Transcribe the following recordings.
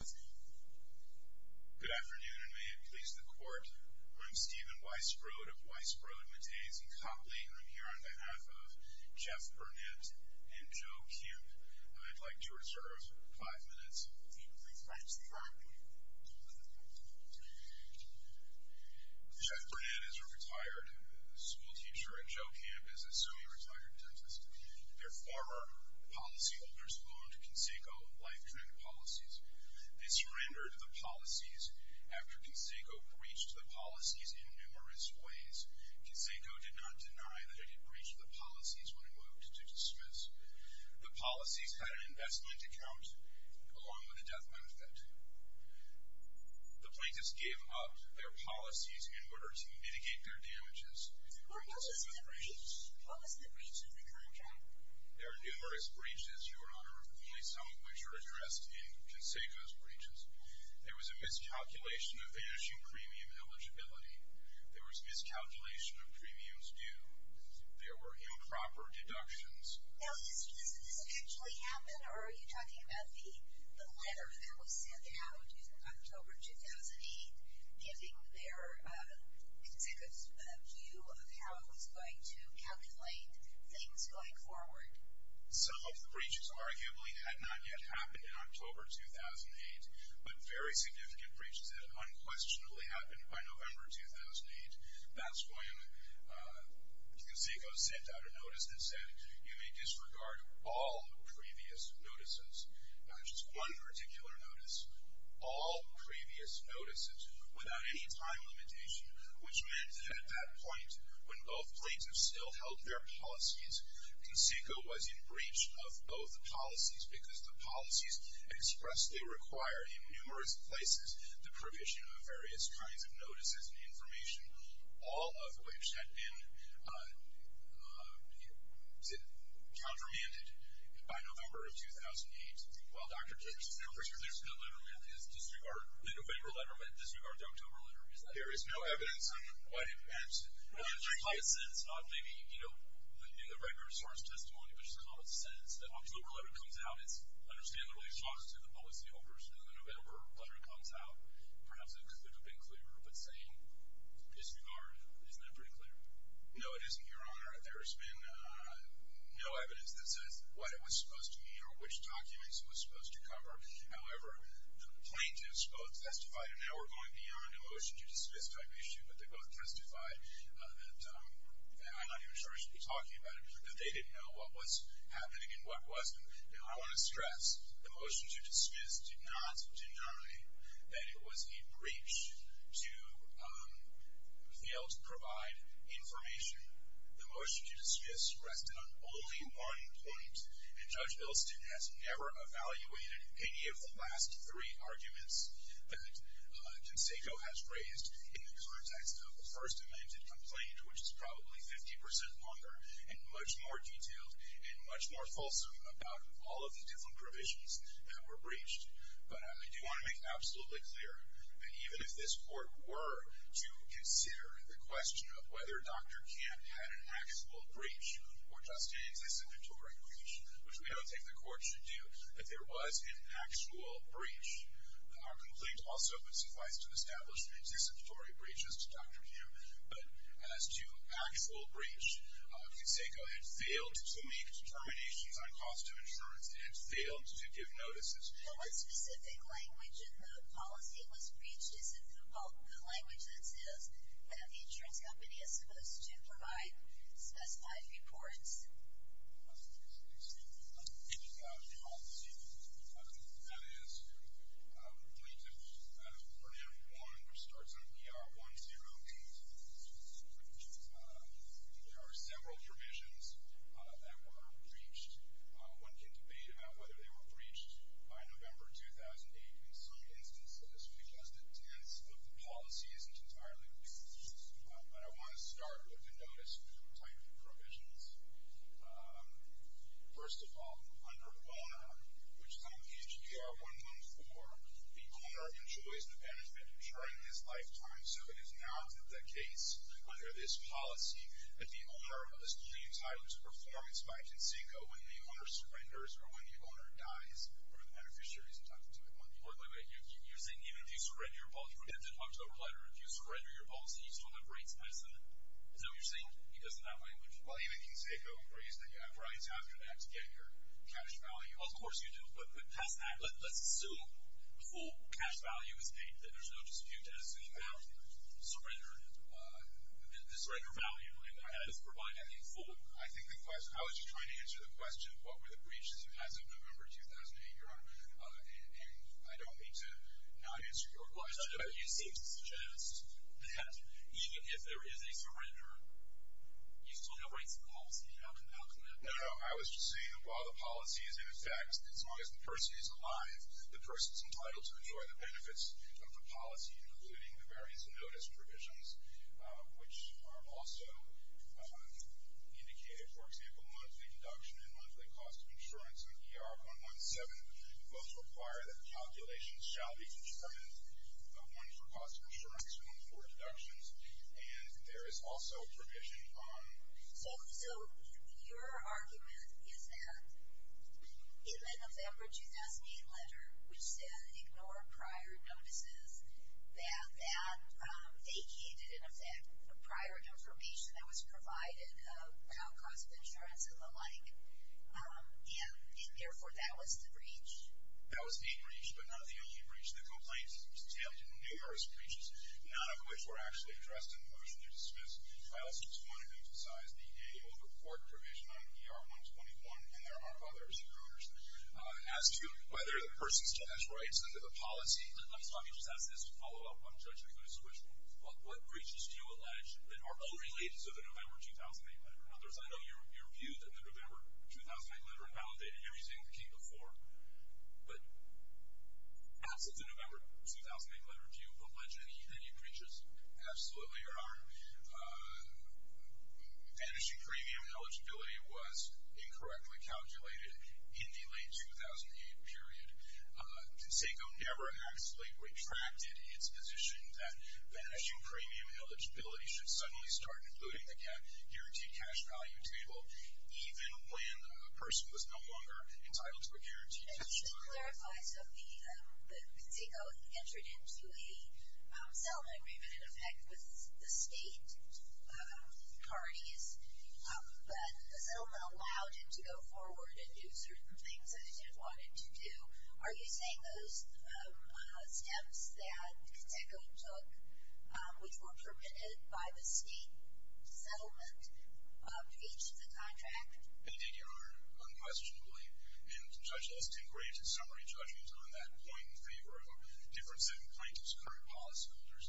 Good afternoon and may it please the court. I'm Stephen Weissbrod of Weissbrod Metades & Copley and I'm here on behalf of Jeff Burnett and Joe Kemp. I'd like to reserve five minutes. Jeff Burnett is a retired schoolteacher and Joe Kemp is a semi-retired dentist. Their former policyholders loaned Conseco life-care policies. They surrendered the policies after Conseco breached the policies in numerous ways. Conseco did not deny that it had breached the policies when it moved to dismiss. The policies had an investment account along with a death benefit. The plaintiffs gave up their policies in order to mitigate their damages. What was the breach? What was the breach of the contract? There are numerous breaches, Your Honor, only some of which are addressed in Conseco's breaches. There was a miscalculation of the issued premium eligibility. There was a miscalculation of premiums due. There were improper deductions. Now, does this actually happen or are you talking about the letter that was sent out in October 2008 giving their, Conseco's view of how it was going to calculate things going forward? Some of the breaches arguably had not yet happened in October 2008, but very significant breaches had unquestionably happened by November 2008. That's why Conseco sent out a notice that said, you may disregard all previous notices, not just one particular notice, all previous notices without any time limitation, which meant that at that point when both plaintiffs still held their policies, Conseco was in breach of both policies because the policies expressly require in numerous places the provision of various kinds of notices and information, all of which had been countermanded by November of 2008. Well, Dr. King, there's no letter meant to disregard the November letter meant to disregard the October letter, is there? There is no evidence on what it meant. In the common sense, maybe, you know, in the regular source testimony, which is the common sense, the October letter comes out, it's, understandably, it talks to the policyholders, and the November letter comes out, perhaps it could have been clearer, but saying disregard, isn't that pretty clear? No, it isn't, Your Honor. There's been no evidence that says what it was supposed to mean or which documents it was supposed to cover. However, the plaintiffs both testified, and now we're going beyond the motion to dismiss type issue, but they both testified that, and I'm not even sure I should be talking about it, that they didn't know what was happening and what wasn't. Now, I want to stress, the motion to dismiss did not deny that it was a breach to fail to provide information. The motion to dismiss rested on only one point, and Judge Bilston has never evaluated any of the last three arguments that Conseco has raised in the context of a First Amendment complaint, which is probably 50% longer and much more detailed and much more fulsome about all of the different provisions that were breached. But I do want to make absolutely clear that even if this Court were to consider the question of whether Dr. Camp had an actual breach or just an existentatory breach, which we don't think the Court should do, that there was an actual breach, our complaint also would suffice to establish the existentatory breaches to Dr. Camp, but as to actual breach, Conseco had failed to make determinations on cost of insurance. It had failed to give notices. Well, what specific language in the policy was breached? Is it the language that says that the insurance company is supposed to provide specified reports? Excuse me. The policy, that is, I'm going to put in one that starts on PR108. There are several provisions that were breached. One can debate about whether they were breached by November 2008 in some instances because the tense of the policy isn't entirely clear, but I want to start with the notice type of provisions. First of all, under Owner, which is on page PR114, the owner enjoys the benefit of ensuring his lifetime, so it is not the case under this policy that the owner is re-entitled to performance by Conseco when the owner surrenders or when the owner dies or the beneficiary is entitled to that money. Wait, wait, wait. You're saying even if you surrender your policy? Remember that October letter? If you surrender your policy, you still have breach medicine? Is that what you're saying? It doesn't have language. Well, even Conseco agrees that you have rights after that to get your cash value. Well, of course you do. But let's assume the full cash value is paid, that there's no dispute, that is, that you have the surrender value and that it is provided in full. I think the question, I was just trying to answer the question, what were the breaches as of November 2008, Your Honor? And I don't mean to not answer your question, but you seem to suggest that even if there is a surrender, you still have rights and policy. How can that be? No, no. I was just saying that while the policy is in effect, as long as the person is alive, the person is entitled to enjoy the benefits of the policy, including the various notice provisions, which are also indicated, for example, monthly induction and monthly cost of insurance on ER 117, both require that the calculation shall be determined, one for cost of insurance, one for deductions, and there is also provision on. So your argument is that in the November 2008 letter, which said ignore prior notices, that that vacated, in effect, prior information that was provided about cost of insurance and the like, and therefore that was the breach? That was the breach, but not the only breach. The complaint has entailed numerous breaches, none of which were actually addressed in the motion to dismiss files which wanted to emphasize the able to report provision on ER 121, and there are others, Your Honors. As to whether the person still has rights under the policy, let me just ask this to follow up on Judge McGood's question. What breaches do you allege that are unrelated to the November 2008 letter? I know your view that the November 2008 letter invalidated everything that came before, but absent the November 2008 letter, do you allege any breaches? Absolutely, Your Honor. Vanishing premium eligibility was incorrectly calculated in the late 2008 period. CONSECO never actually retracted its position that vanishing premium eligibility should suddenly start including the guaranteed cash value table, even when a person was no longer entitled to a guaranteed cash value table. Just to clarify, so the CONSECO entered into a settlement agreement, in effect, with the state parties, but the settlement allowed it to go forward and do certain things that it didn't want it to do. Are you saying those steps that CONSECO took, which were permitted by the state settlement, breached the contract? Indeed, Your Honor. Unquestionably. And, Judge, let's take a brief summary judgment on that point in favor of a difference in plaintiff's current policyholders.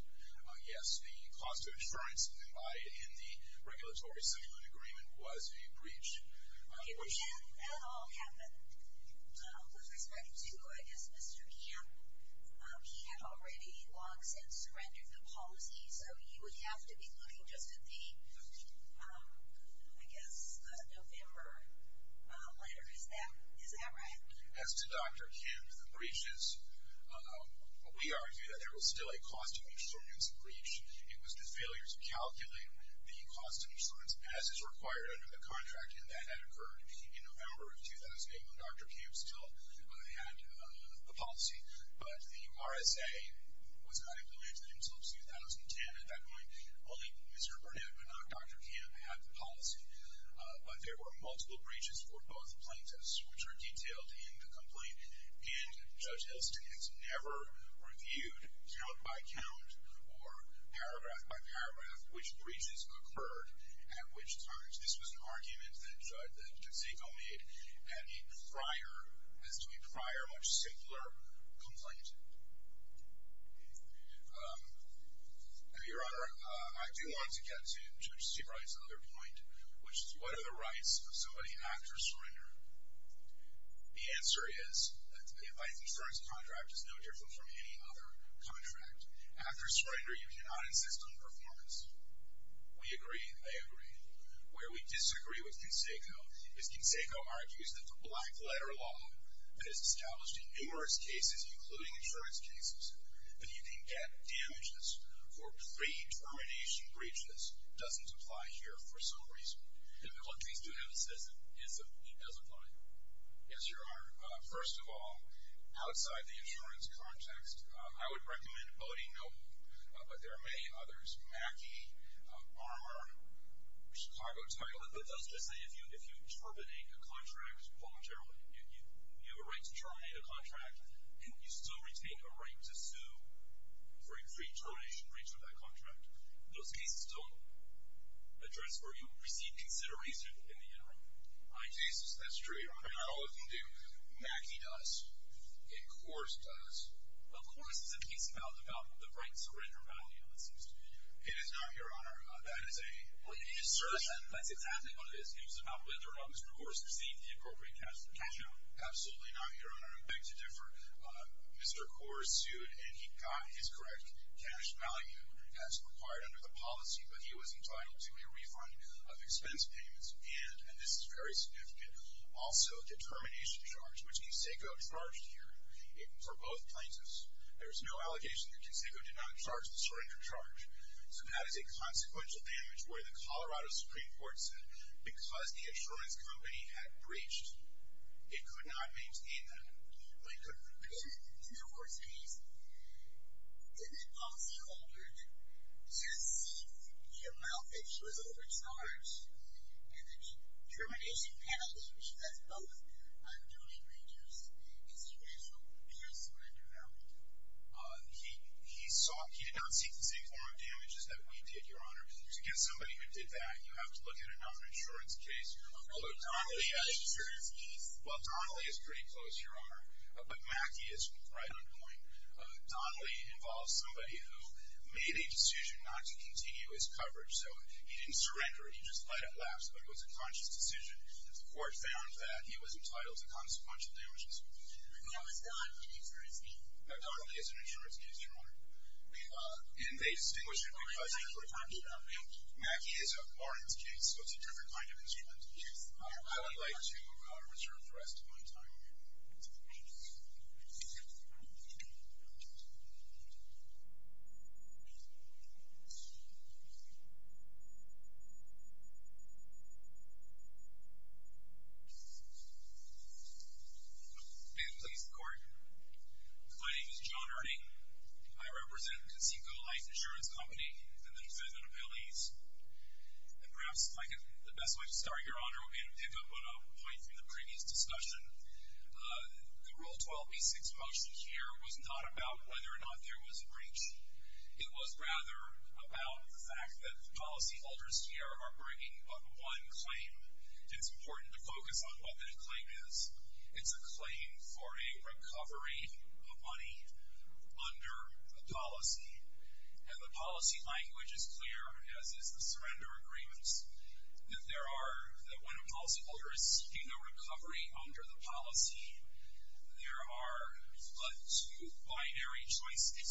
Yes, the cost of insurance in the regulatory settlement agreement was a breach. Okay, but did that at all happen? With respect to, I guess, Mr. Kim, he had already long since surrendered the policy, so you would have to be looking just at the, I guess, November letter. Is that right? As to Dr. Kim's breaches, we argue that there was still a cost of insurance breach. It was the failure to calculate the cost of insurance, as is required under the contract, and that had occurred in November of 2008 when Dr. Kim still had the policy. But the RSA was not included until 2010. At that point, only Mr. Burnett, but not Dr. Kim, had the policy. But there were multiple breaches for both plaintiffs, which are detailed in the complaint, and Judge Elston has never reviewed count-by-count or paragraph-by-paragraph which breaches occurred at which times. This was an argument that Zico made at a prior, as to a prior, much simpler complaint. Your Honor, I do want to get to Judge Steve Wright's other point, which is what are the rights of somebody after surrender? The answer is that the advice insurance contract is no different from any other contract. After surrender, you cannot insist on performance. We agree, they agree. Where we disagree with Kinseko is Kinseko argues that the black-letter law that is established in numerous cases, including insurance cases, that you can get damages for pre-termination breaches doesn't apply here for some reason. And what these do have to say is that it doesn't apply here. Yes, Your Honor. First of all, outside the insurance context, I would recommend Odie Noble, but there are many others, Mackey, Armour, Chicago Title. But those just say if you terminate a contract voluntarily, you have a right to terminate a contract, and you still retain a right to sue for a pre-termination breach of that contract. Those cases don't address where you receive consideration in the interim. My cases, that's true, Your Honor. Not all of them do. Mackey does, and Coors does. Well, Coors is a case about the right to surrender value, it seems to me. It is not, Your Honor. That is a assertion. That's exactly what it is. It was about whether or not Mr. Coors received the appropriate cash for cash out. Absolutely not, Your Honor. I beg to differ. Mr. Coors sued, and he got his correct cash value as required under the policy, but he was entitled to a refund of expense payments. And, and this is very significant, also a determination charge, which Kiseko charged here for both plaintiffs. There is no allegation that Kiseko did not charge the surrender charge. So that is a consequential damage where the Colorado Supreme Court said because the insurance company had breached, it could not maintain that. In the Coors case, didn't the policy holder just seek the amount that she was overcharged and the termination penalty, which that's both unduly gracious and surreptitious surrender value? He sought, he did not seek the same form of damages that we did, Your Honor. To get somebody who did that, you have to look at another insurance case. But Mackie is right on point. Donnelly involved somebody who made a decision not to continue his coverage. So he didn't surrender, he just let it lapse, but it was a conscious decision. The court found that he was entitled to consequential damages. Who is Donnelly an insurance company? Donnelly is an insurance company, Your Honor. And they distinguished it by the fact that Mackie is a Barnes case, so it's a different kind of insurance. I would like to return for the rest of my time. May it please the Court. My name is John Ernie. I represent Conceicao Life Insurance Company and the defendant appellees. And perhaps if I could, the best way to start, Your Honor, would be to pick up on a point from the previous discussion. The Rule 12b-6 motion here was not about whether or not there was a breach. It was rather about the fact that the policyholders here are bringing up one claim. It's important to focus on what that claim is. It's a claim for a recovery of money under a policy. And the policy language is clear, as is the surrender agreements, that when a policyholder is seeking a recovery under the policy, there are two binary choices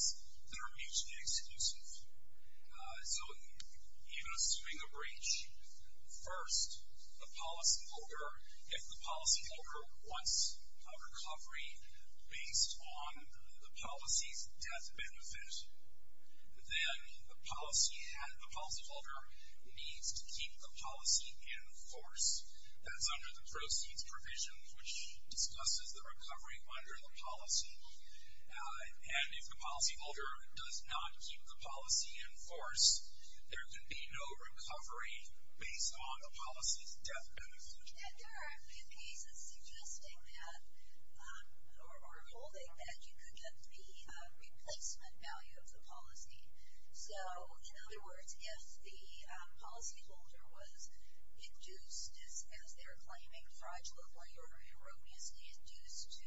that are mutually exclusive. So, even assuming a breach, first, if the policyholder wants a recovery based on the policy's death benefit, then the policyholder needs to keep the policy in force. That's under the proceeds provision, which discusses the recovery under the policy. And if the policyholder does not keep the policy in force, there can be no recovery based on the policy's death benefit. And there are a few cases suggesting that, or holding that, you could get the replacement value of the policy. So, in other words, if the policyholder was induced, as they're claiming, fraudulently or erroneously induced to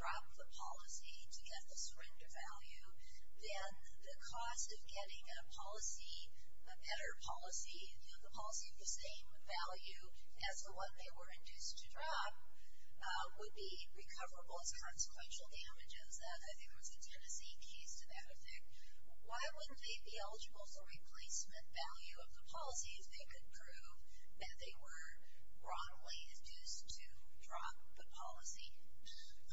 drop the policy to get the surrender value, then the cost of getting a policy, a better policy, the policy of the same value as the one they were induced to drop, would be recoverable as consequential damage as that. I think there was a Tennessee case to that effect. Why wouldn't they be eligible for replacement value of the policy if they could prove that they were wrongly induced to drop the policy?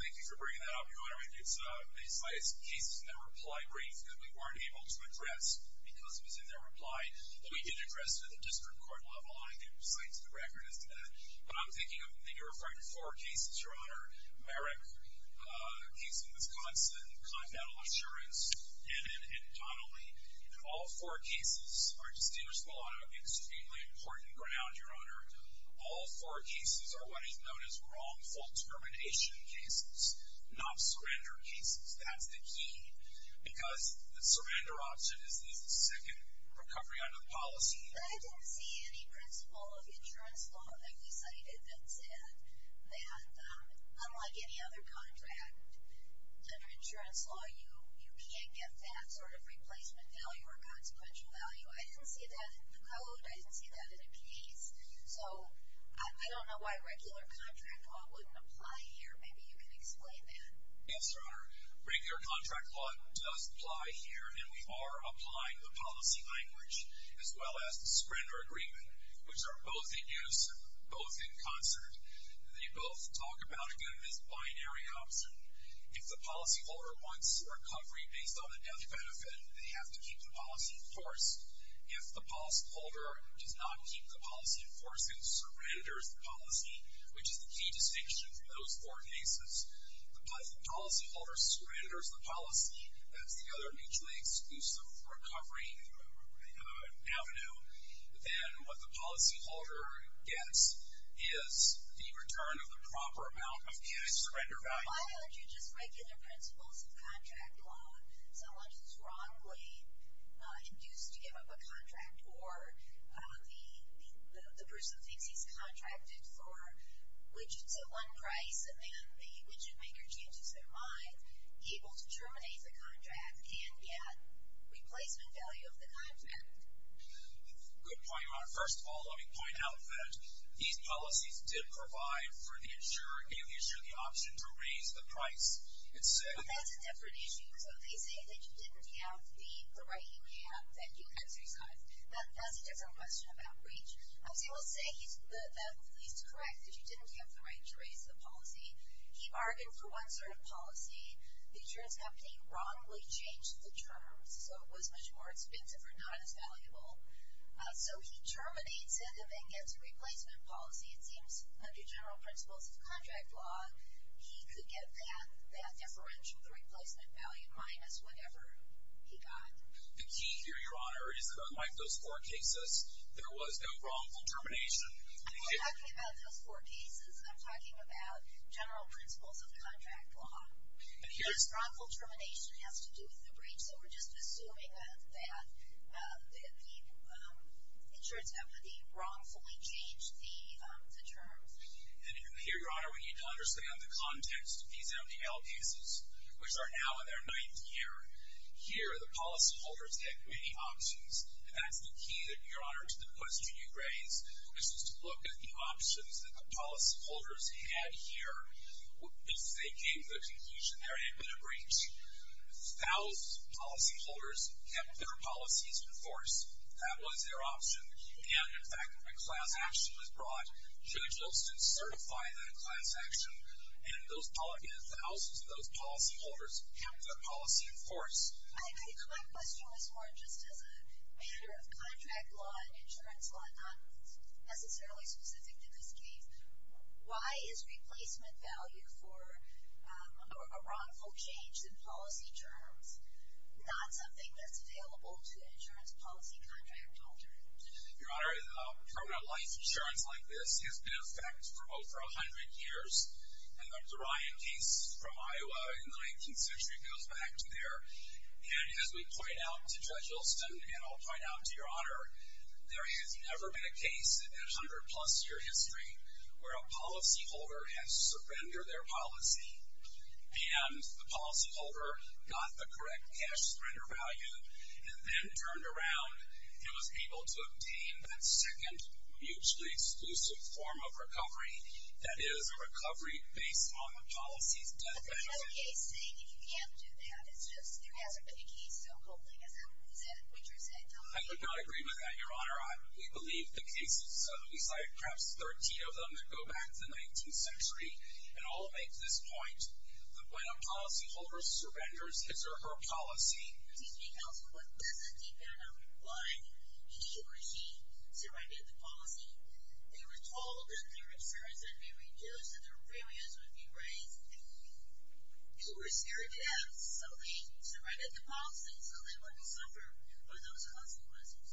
Thank you for bringing that up, Your Honor. I mean, it's cases in that reply brief that we weren't able to address because it was in their reply, but we did address it at the district court level. I can cite to the record as to that. But I'm thinking that you're referring to four cases, Your Honor. Merrick, a case in Wisconsin, Confederal Assurance, and Donnelly. And all four cases are distinguished from a lot of extremely important ground, Your Honor. All four cases are what is known as wrongful determination cases, not surrender cases. That's the key. Because the surrender option is the second recovery under the policy. But I didn't see any principle of insurance law that we cited that said that unlike any other contract under insurance law, you can't get that sort of replacement value or consequential value. I didn't see that in the code. I didn't see that in a case. So I don't know why regular contract law wouldn't apply here. Maybe you can explain that. Yes, Your Honor. Regular contract law does apply here, and we are applying the policy language as well as the surrender agreement, which are both in use, both in concert. They both talk about, again, this binary option. If the policyholder wants recovery based on the death benefit, they have to keep the policy in force. If the policyholder does not keep the policy in force and surrenders the policy, which is the key distinction from those four cases, if the policyholder surrenders the policy, that's the other mutually exclusive recovery avenue, then what the policyholder gets is the return of the proper amount of cash surrender value. Why aren't you just regular principles of contract law? Someone is wrongly induced to give up a contract, or the person thinks he's contracted for widgets at one price, and then the widget maker changes their mind, able to terminate the contract and get replacement value of the contract. Good point, Your Honor. First of all, let me point out that these policies did provide for the insurer the option to raise the price. But that's a different issue. So they say that you didn't have the right you have and you exercised. That's a different question about breach. I would say he's correct that you didn't have the right to raise the policy. He bargained for one sort of policy. The insurance company wrongly changed the terms, so it was much more expensive or not as valuable. So he terminates it and then gets a replacement policy. It seems under general principles of contract law, he could get that deferential, the replacement value, minus whatever he got. The key here, Your Honor, is that unlike those four cases, there was no wrongful termination. I'm not talking about those four cases. I'm talking about general principles of contract law. This wrongful termination has to do with the breach, so we're just assuming that the insurance company wrongfully changed the terms. Here, Your Honor, we need to understand the context of these MDL cases, which are now in their ninth year. Here, the policyholders get many options, and that's the key, Your Honor, to the question you raised, which is to look at the options that the policyholders had here. If they came to the conclusion they were able to breach, thousands of policyholders kept their policies in force. That was their option. And, in fact, when a class action was brought, judges would certify that class action, and thousands of those policyholders kept their policy in force. I think my question was more just as a matter of contract law and insurance law, not necessarily specific to this case. Why is replacement value for a wrongful change in policy terms not something that's available to an insurance policy contract holder? Your Honor, permanent life insurance like this has been in effect for over 100 years. And the Ryan case from Iowa in the 19th century goes back to there. And as we point out to Judge Olson, and I'll point out to Your Honor, there has never been a case in 100-plus year history where a policyholder has surrendered their policy, and the policyholder got the correct cash spender value, and then turned around and was able to obtain that second mutually exclusive form of recovery, that is, a recovery based on the policy's death benefit. But there has been a case saying that you can't do that. It's just there hasn't been a case so openly as that. Is that what you're saying? I do not agree with that, Your Honor. We believe the cases, so we cited perhaps 13 of them that go back to the 19th century, and all make this point that when a policyholder surrenders his or her policy, he or she surrendered the policy. They were told that their insurance would be reduced, that their premiums would be raised. They were scared to have solutions. They surrendered the policy so they wouldn't suffer from those consequences.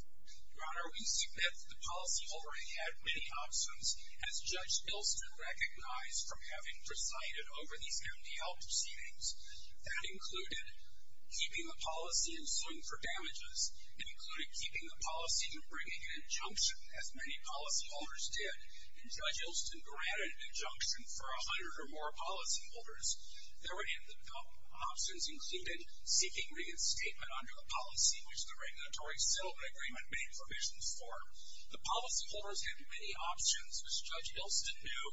Your Honor, we submit that the policyholder had many options, as Judge Olson recognized from having presided over these MDL proceedings. That included keeping the policy in swing for damages. It included keeping the policy and bringing an injunction, as many policyholders did. And Judge Olson granted an injunction for 100 or more policyholders. There were many options, including seeking reinstatement under a policy, which the regulatory settlement agreement made provisions for. The policyholders had many options, as Judge Olson knew,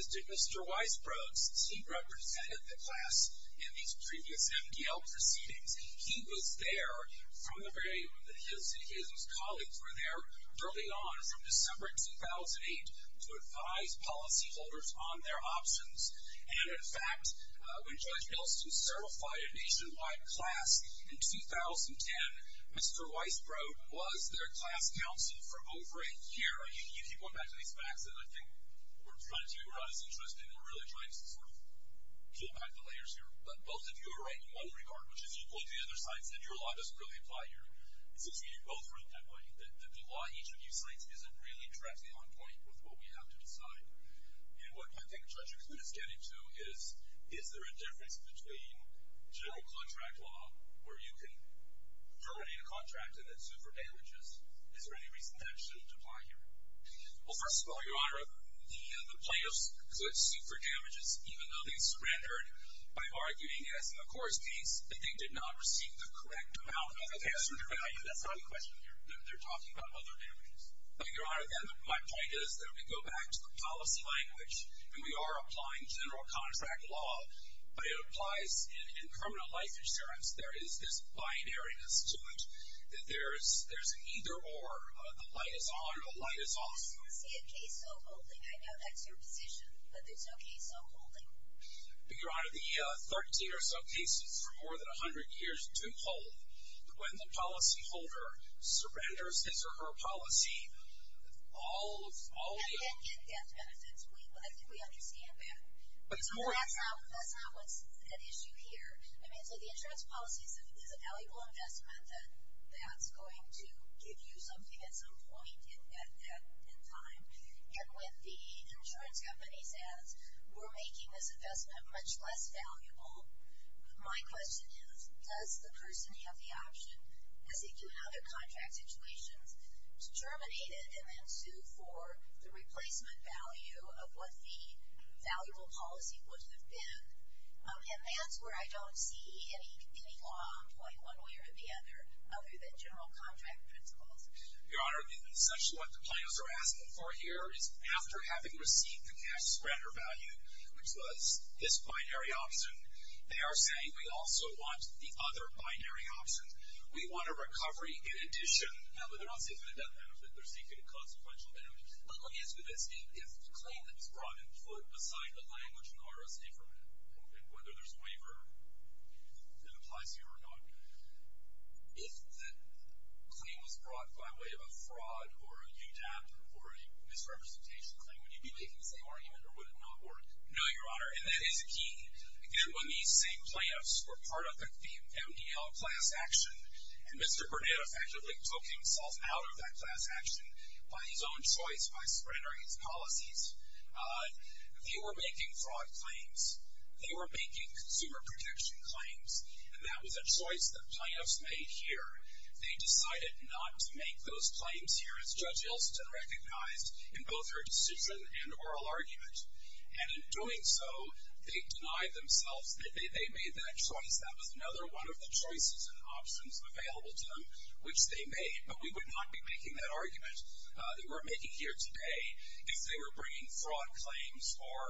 as did Mr. Weisbrod. He represented the class in these previous MDL proceedings. He was there from the very beginning. His colleagues were there early on, from December 2008, to advise policyholders on their options. And, in fact, when Judge Olson certified a nationwide class in 2010, Mr. Weisbrod was their class counsel for over a year. You keep going back to these facts, and I think we're trying to do what is interesting. We're really trying to sort of peel back the layers here. But both of you are right in one regard, which is equal to the other side, that your law doesn't really apply here. It seems to me that you both wrote that way, that the law each of you cites isn't really directly on point with what we have to decide. And what I think Judges would extend it to is, is there a difference between general contract law, where you can terminate a contract and then sue for damages? Is there any reason that it shouldn't apply here? Well, first of all, Your Honor, the plaintiffs could sue for damages, even though they surrendered by arguing as a court case that they did not receive the correct amount of damages. That's not a question here. They're talking about other damages. But, Your Honor, again, my point is that we go back to the policy language, and we are applying general contract law, but it applies in criminal life insurance. There is this binariness to it. There's an either-or. The light is on or the light is off. I just don't see a case so holding. I know that's your position, but there's no case so holding. But, Your Honor, the 13 or so cases for more than 100 years do hold. When the policyholder surrenders his or her policy, all of the... We can't get death benefits. I think we understand that. But it's more... That's not what's at issue here. I mean, so the insurance policy is a valuable investment that's going to give you something at some point in time. And when the insurance company says, we're making this investment much less valuable, my question is, does the person have the option, as they do in other contract situations, to terminate it and then sue for the replacement value of what the valuable policy would have been? And that's where I don't see any law on point one way or the other other than general contract principles. Your Honor, essentially what the plaintiffs are asking for here is after having received the cash surrender value, which was this binary option, they are saying we also want the other binary option. We want a recovery in addition. No, but they're not seeking a death benefit. They're seeking a consequential benefit. Let me ask you this. If the claim that was brought in beside the language and RSA for it, and whether there's waiver that applies to you or not, if the claim was brought by way of a fraud or a UDAP or a misrepresentation claim, would you be making the same argument or would it not work? No, Your Honor, and that is key. Again, when these same plaintiffs were part of the MDL class action and Mr. Bernetta effectively took himself out of that class action by his own choice, by surrendering his policies, they were making fraud claims. They were making consumer protection claims. And that was a choice that plaintiffs made here. They decided not to make those claims here, as Judge Elston recognized in both her decision and oral argument. And in doing so, they denied themselves. They made that choice. That was another one of the choices and options available to them, which they made. But we would not be making that argument that we're making here today if they were bringing fraud claims or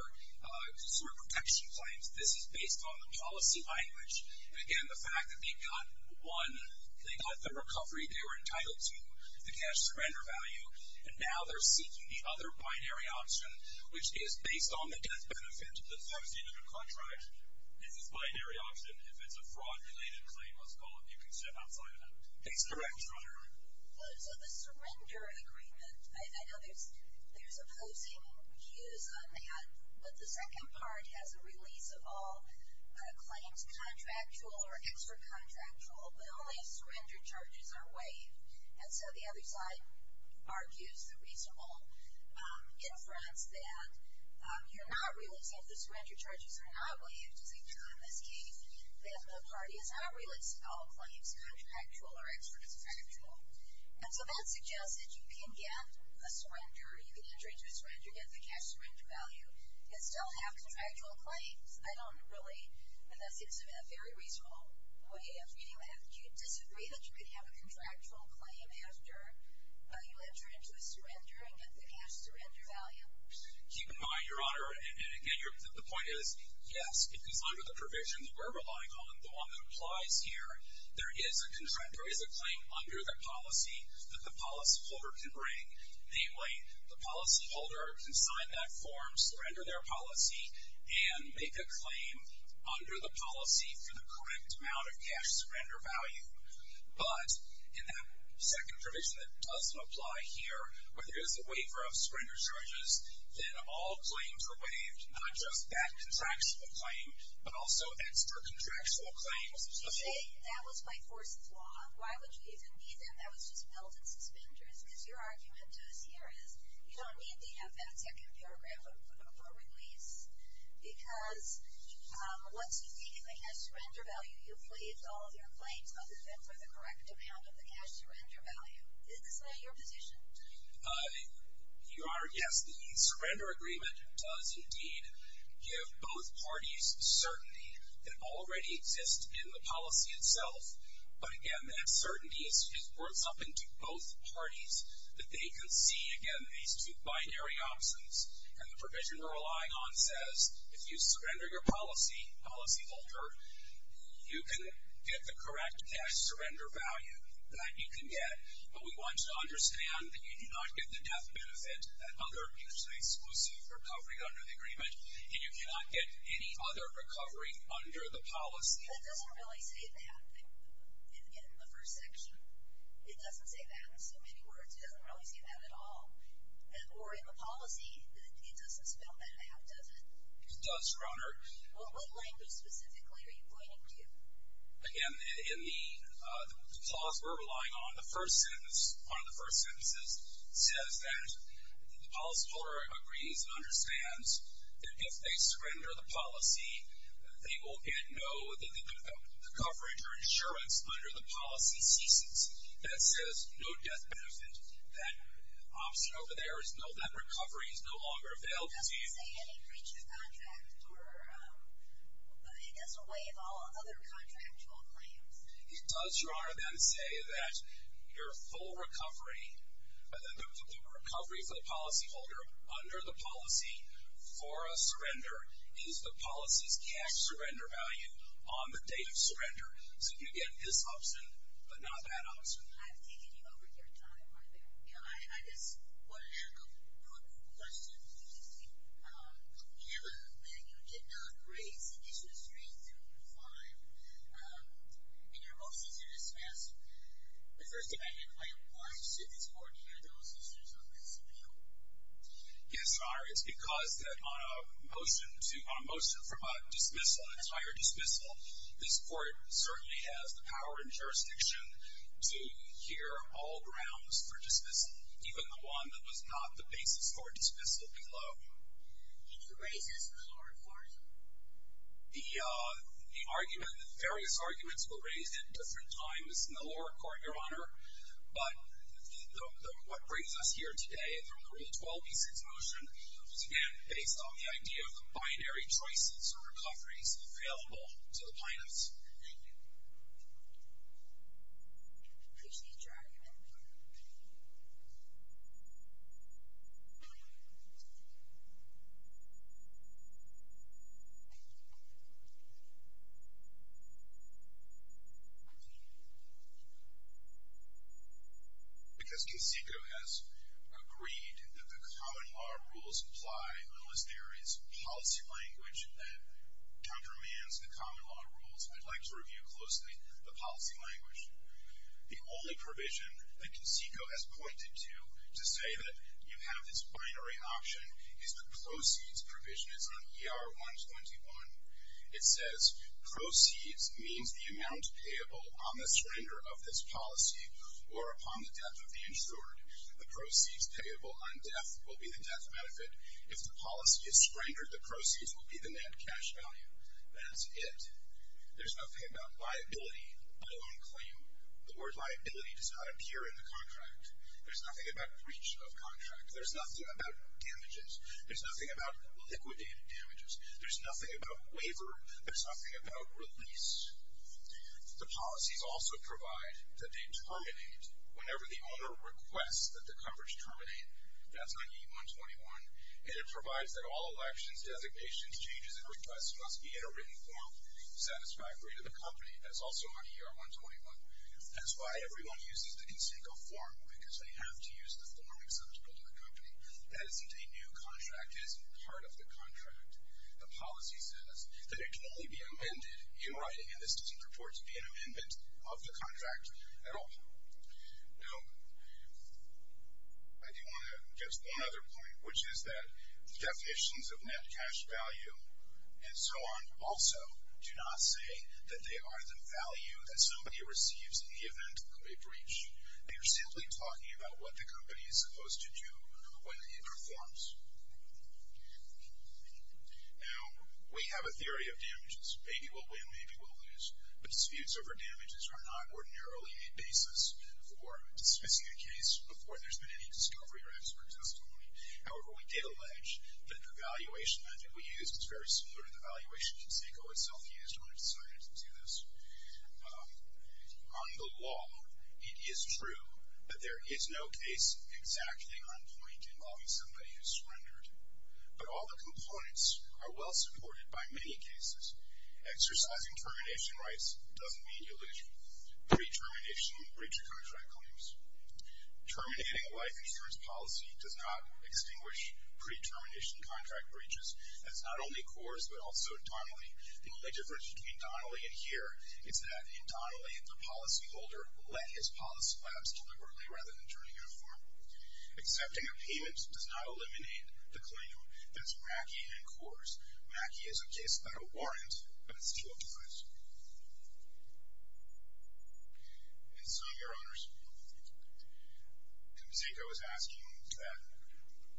consumer protection claims. This is based on the policy language. And again, the fact that they got one, they got the recovery, they were entitled to the cash surrender value, and now they're seeking the other binary option, which is based on the death benefit. The death benefit of a contract is this binary option if it's a fraud-related claim, as all of you can say outside of that. It's correct. So the surrender agreement, I know there's opposing views on that, but the second part has a release of all claims contractual or extra-contractual, but only if surrender charges are waived. And so the other side argues the reasonable inference that you're not releasing if the surrender charges are not waived. Which is a term, in this case, that the parties aren't releasing all claims contractual or extra-contractual. And so that suggests that you can get a surrender, you can enter into a surrender, get the cash surrender value, and still have contractual claims. I don't really, unless it's in a very reasonable way of reading, would you disagree that you could have a contractual claim after you enter into a surrender and get the cash surrender value? Keep in mind, Your Honor, and again, the point is, yes, because under the provision that we're relying on, the one that applies here, there is a claim under the policy that the policyholder can bring. Namely, the policyholder can sign that form, surrender their policy, and make a claim under the policy for the correct amount of cash surrender value. But in that second provision that doesn't apply here, where there is a waiver of surrender charges, then all claims are waived, not just that contractual claim, but also extra-contractual claims. You say that was by force of law. Why would you even need that? That was just billed in suspenders. Because your argument to us here is, you don't need to have that second paragraph of a release, because once you've taken the cash surrender value, you've waived all of your claims, other than for the correct amount of the cash surrender value. Isn't that your position? Yes, the surrender agreement does indeed give both parties certainty that already exists in the policy itself. But again, that certainty just works up into both parties, that they can see, again, these two binary options. And the provision we're relying on says, if you surrender your policy, policyholder, you can get the correct cash surrender value. That you can get. But we want you to understand that you do not get the death benefit, that other usually exclusive recovery under the agreement, and you cannot get any other recovery under the policy. But it doesn't really say that in the first section. It doesn't say that in so many words. It doesn't really say that at all. Or in the policy, it doesn't spell that out, does it? It does, Your Honor. What language specifically are you pointing to? Again, in the clause we're relying on, the first sentence, one of the first sentences, says that the policyholder agrees and understands that if they surrender the policy, they will get no coverage or insurance under the policy ceases. And it says no death benefit. That option over there is no death recovery. It's no longer available to you. It doesn't say any breach of contract, or it doesn't waive all other contractual claims. It does, Your Honor, then say that your full recovery, the recovery for the policyholder under the policy for a surrender, is the policy's cash surrender value on the date of surrender. So you get this option, but not that option. I've taken you over your time right there. Yeah, I just wanted to ask a quick question. You just gave a statement that you did not raise an issue straight through your file. In your motion to dismiss, the first thing I had in mind, why should this court hear those issues on this appeal? Yes, Your Honor, it's because on a motion from a dismissal, this court certainly has the power and jurisdiction to hear all grounds for dismissal, even the one that was not the basis for a dismissal below. Did you raise this in the lower court? The argument, various arguments were raised at different times in the lower court, Your Honor. But what brings us here today from the Rule 12b6 motion was, again, based on the idea of binary choices or recoveries available to the plaintiffs. Thank you. I see Jack. Because Casico has agreed that the common law rules apply, unless there is policy language that I would like to review closely, the policy language. The only provision that Casico has pointed to to say that you have this binary option is the proceeds provision. It's on ER 121. It says, proceeds means the amount payable on the surrender of this policy or upon the death of the insured. The proceeds payable on death will be the death benefit. If the policy is surrendered, the proceeds will be the net cash value. That's it. There's nothing about viability, let alone claim. The word viability does not appear in the contract. There's nothing about breach of contract. There's nothing about damages. There's nothing about liquidated damages. There's nothing about waiver. There's nothing about release. The policies also provide that they terminate whenever the owner requests that the coverage terminate. That's on ER 121. And it provides that all elections, designations, exchanges, and requests must be in a written form satisfactory to the company. That's also on ER 121. That's why everyone uses the Casico form, because they have to use the form acceptable to the company. That isn't a new contract. It isn't part of the contract. The policy says that it can only be amended in writing, and this doesn't purport to be an amendment of the contract at all. Now, I do want to get to one other point, which is that definitions of net cash value and so on also do not say that they are the value that somebody receives in the event of a breach. They are simply talking about what the company is supposed to do when it performs. Now, we have a theory of damages. Maybe we'll win, maybe we'll lose. But disputes over damages are not ordinarily a basis for dismissing a case before there's been any discovery or expert testimony. However, we did allege that the valuation method we used is very similar to the valuation Casico itself used when it decided to do this. On the law, it is true that there is no case exactly on point involving somebody who surrendered. But all the components are well supported by many cases. Exercising termination rights doesn't mean you lose pre-termination breach of contract claims. Terminating a life insurance policy does not extinguish pre-termination contract breaches. That's not only Coors, but also Donnelly. The only difference between Donnelly and here is that in Donnelly, the policyholder let his policy collapse deliberately rather than turning it over. Accepting a payment does not eliminate the claim. That's Mackey and Coors. Mackey is a case but a warrant, but it's still a case. And so, Your Honors, Casico is asking that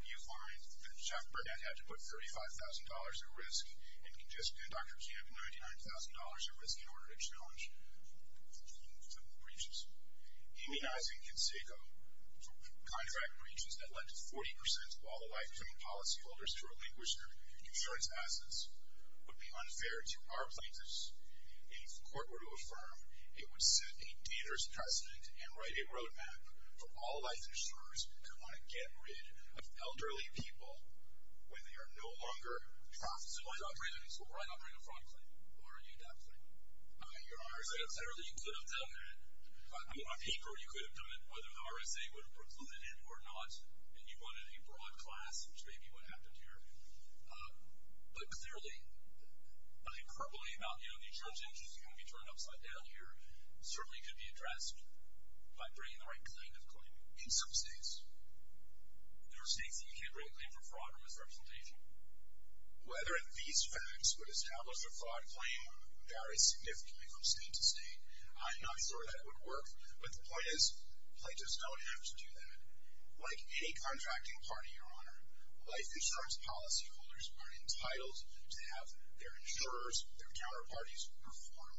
you find that Chuck Burnett had to put $35,000 at risk and Dr. Camp $99,000 at risk in order to challenge the breaches. Immunizing Casico from contract breaches that led to 40% of all lifetime policyholders to relinquish their insurance assets would be unfair to our plaintiffs. If the court were to affirm, it would set a dangerous precedent and write a road map for all life insurers who want to get rid of elderly people when they are no longer profitable. So I'm not bringing a fraud claim. Who are you adopting? Your RSA. Clearly, you could have done that. On paper, you could have done it, whether the RSA would have included it or not. And you run in a broad class, which may be what happened here. But clearly, I think probably about, you know, the insurance interest is going to be turned upside down here. It certainly could be addressed by bringing the right kind of claim. In some states. There are states that you can't bring a claim for fraud or misrepresentation. Whether these facts would establish a fraud claim varies significantly from state to state. I'm not sure that would work. Like any contracting party, Your Honor, life insurance policyholders are entitled to have their insurers, their counterparties, perform.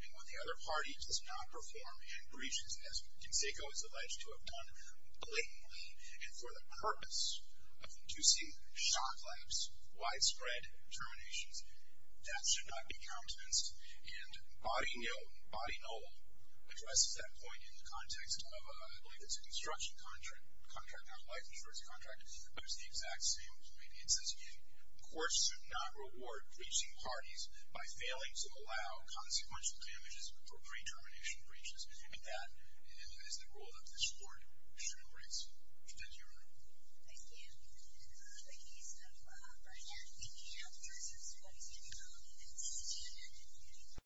And when the other party does not perform and breaches, as we can say, goes alleged to have done blatantly and for the purpose of conducive, shock-lapse, widespread terminations, that should not be countenanced. And body know, body know, addresses that point in the context of, I believe it's an instruction contract, not a life insurance contract, but it's the exact same. Maybe it says you, of course, should not reward breaching parties by failing to allow consequential damages for pre-termination breaches. And that is the rule of this Court. Your Honor. Thank you, Your Honor. Thank you. In the case of Bernadette, did you have the presence of what is called an insurgent?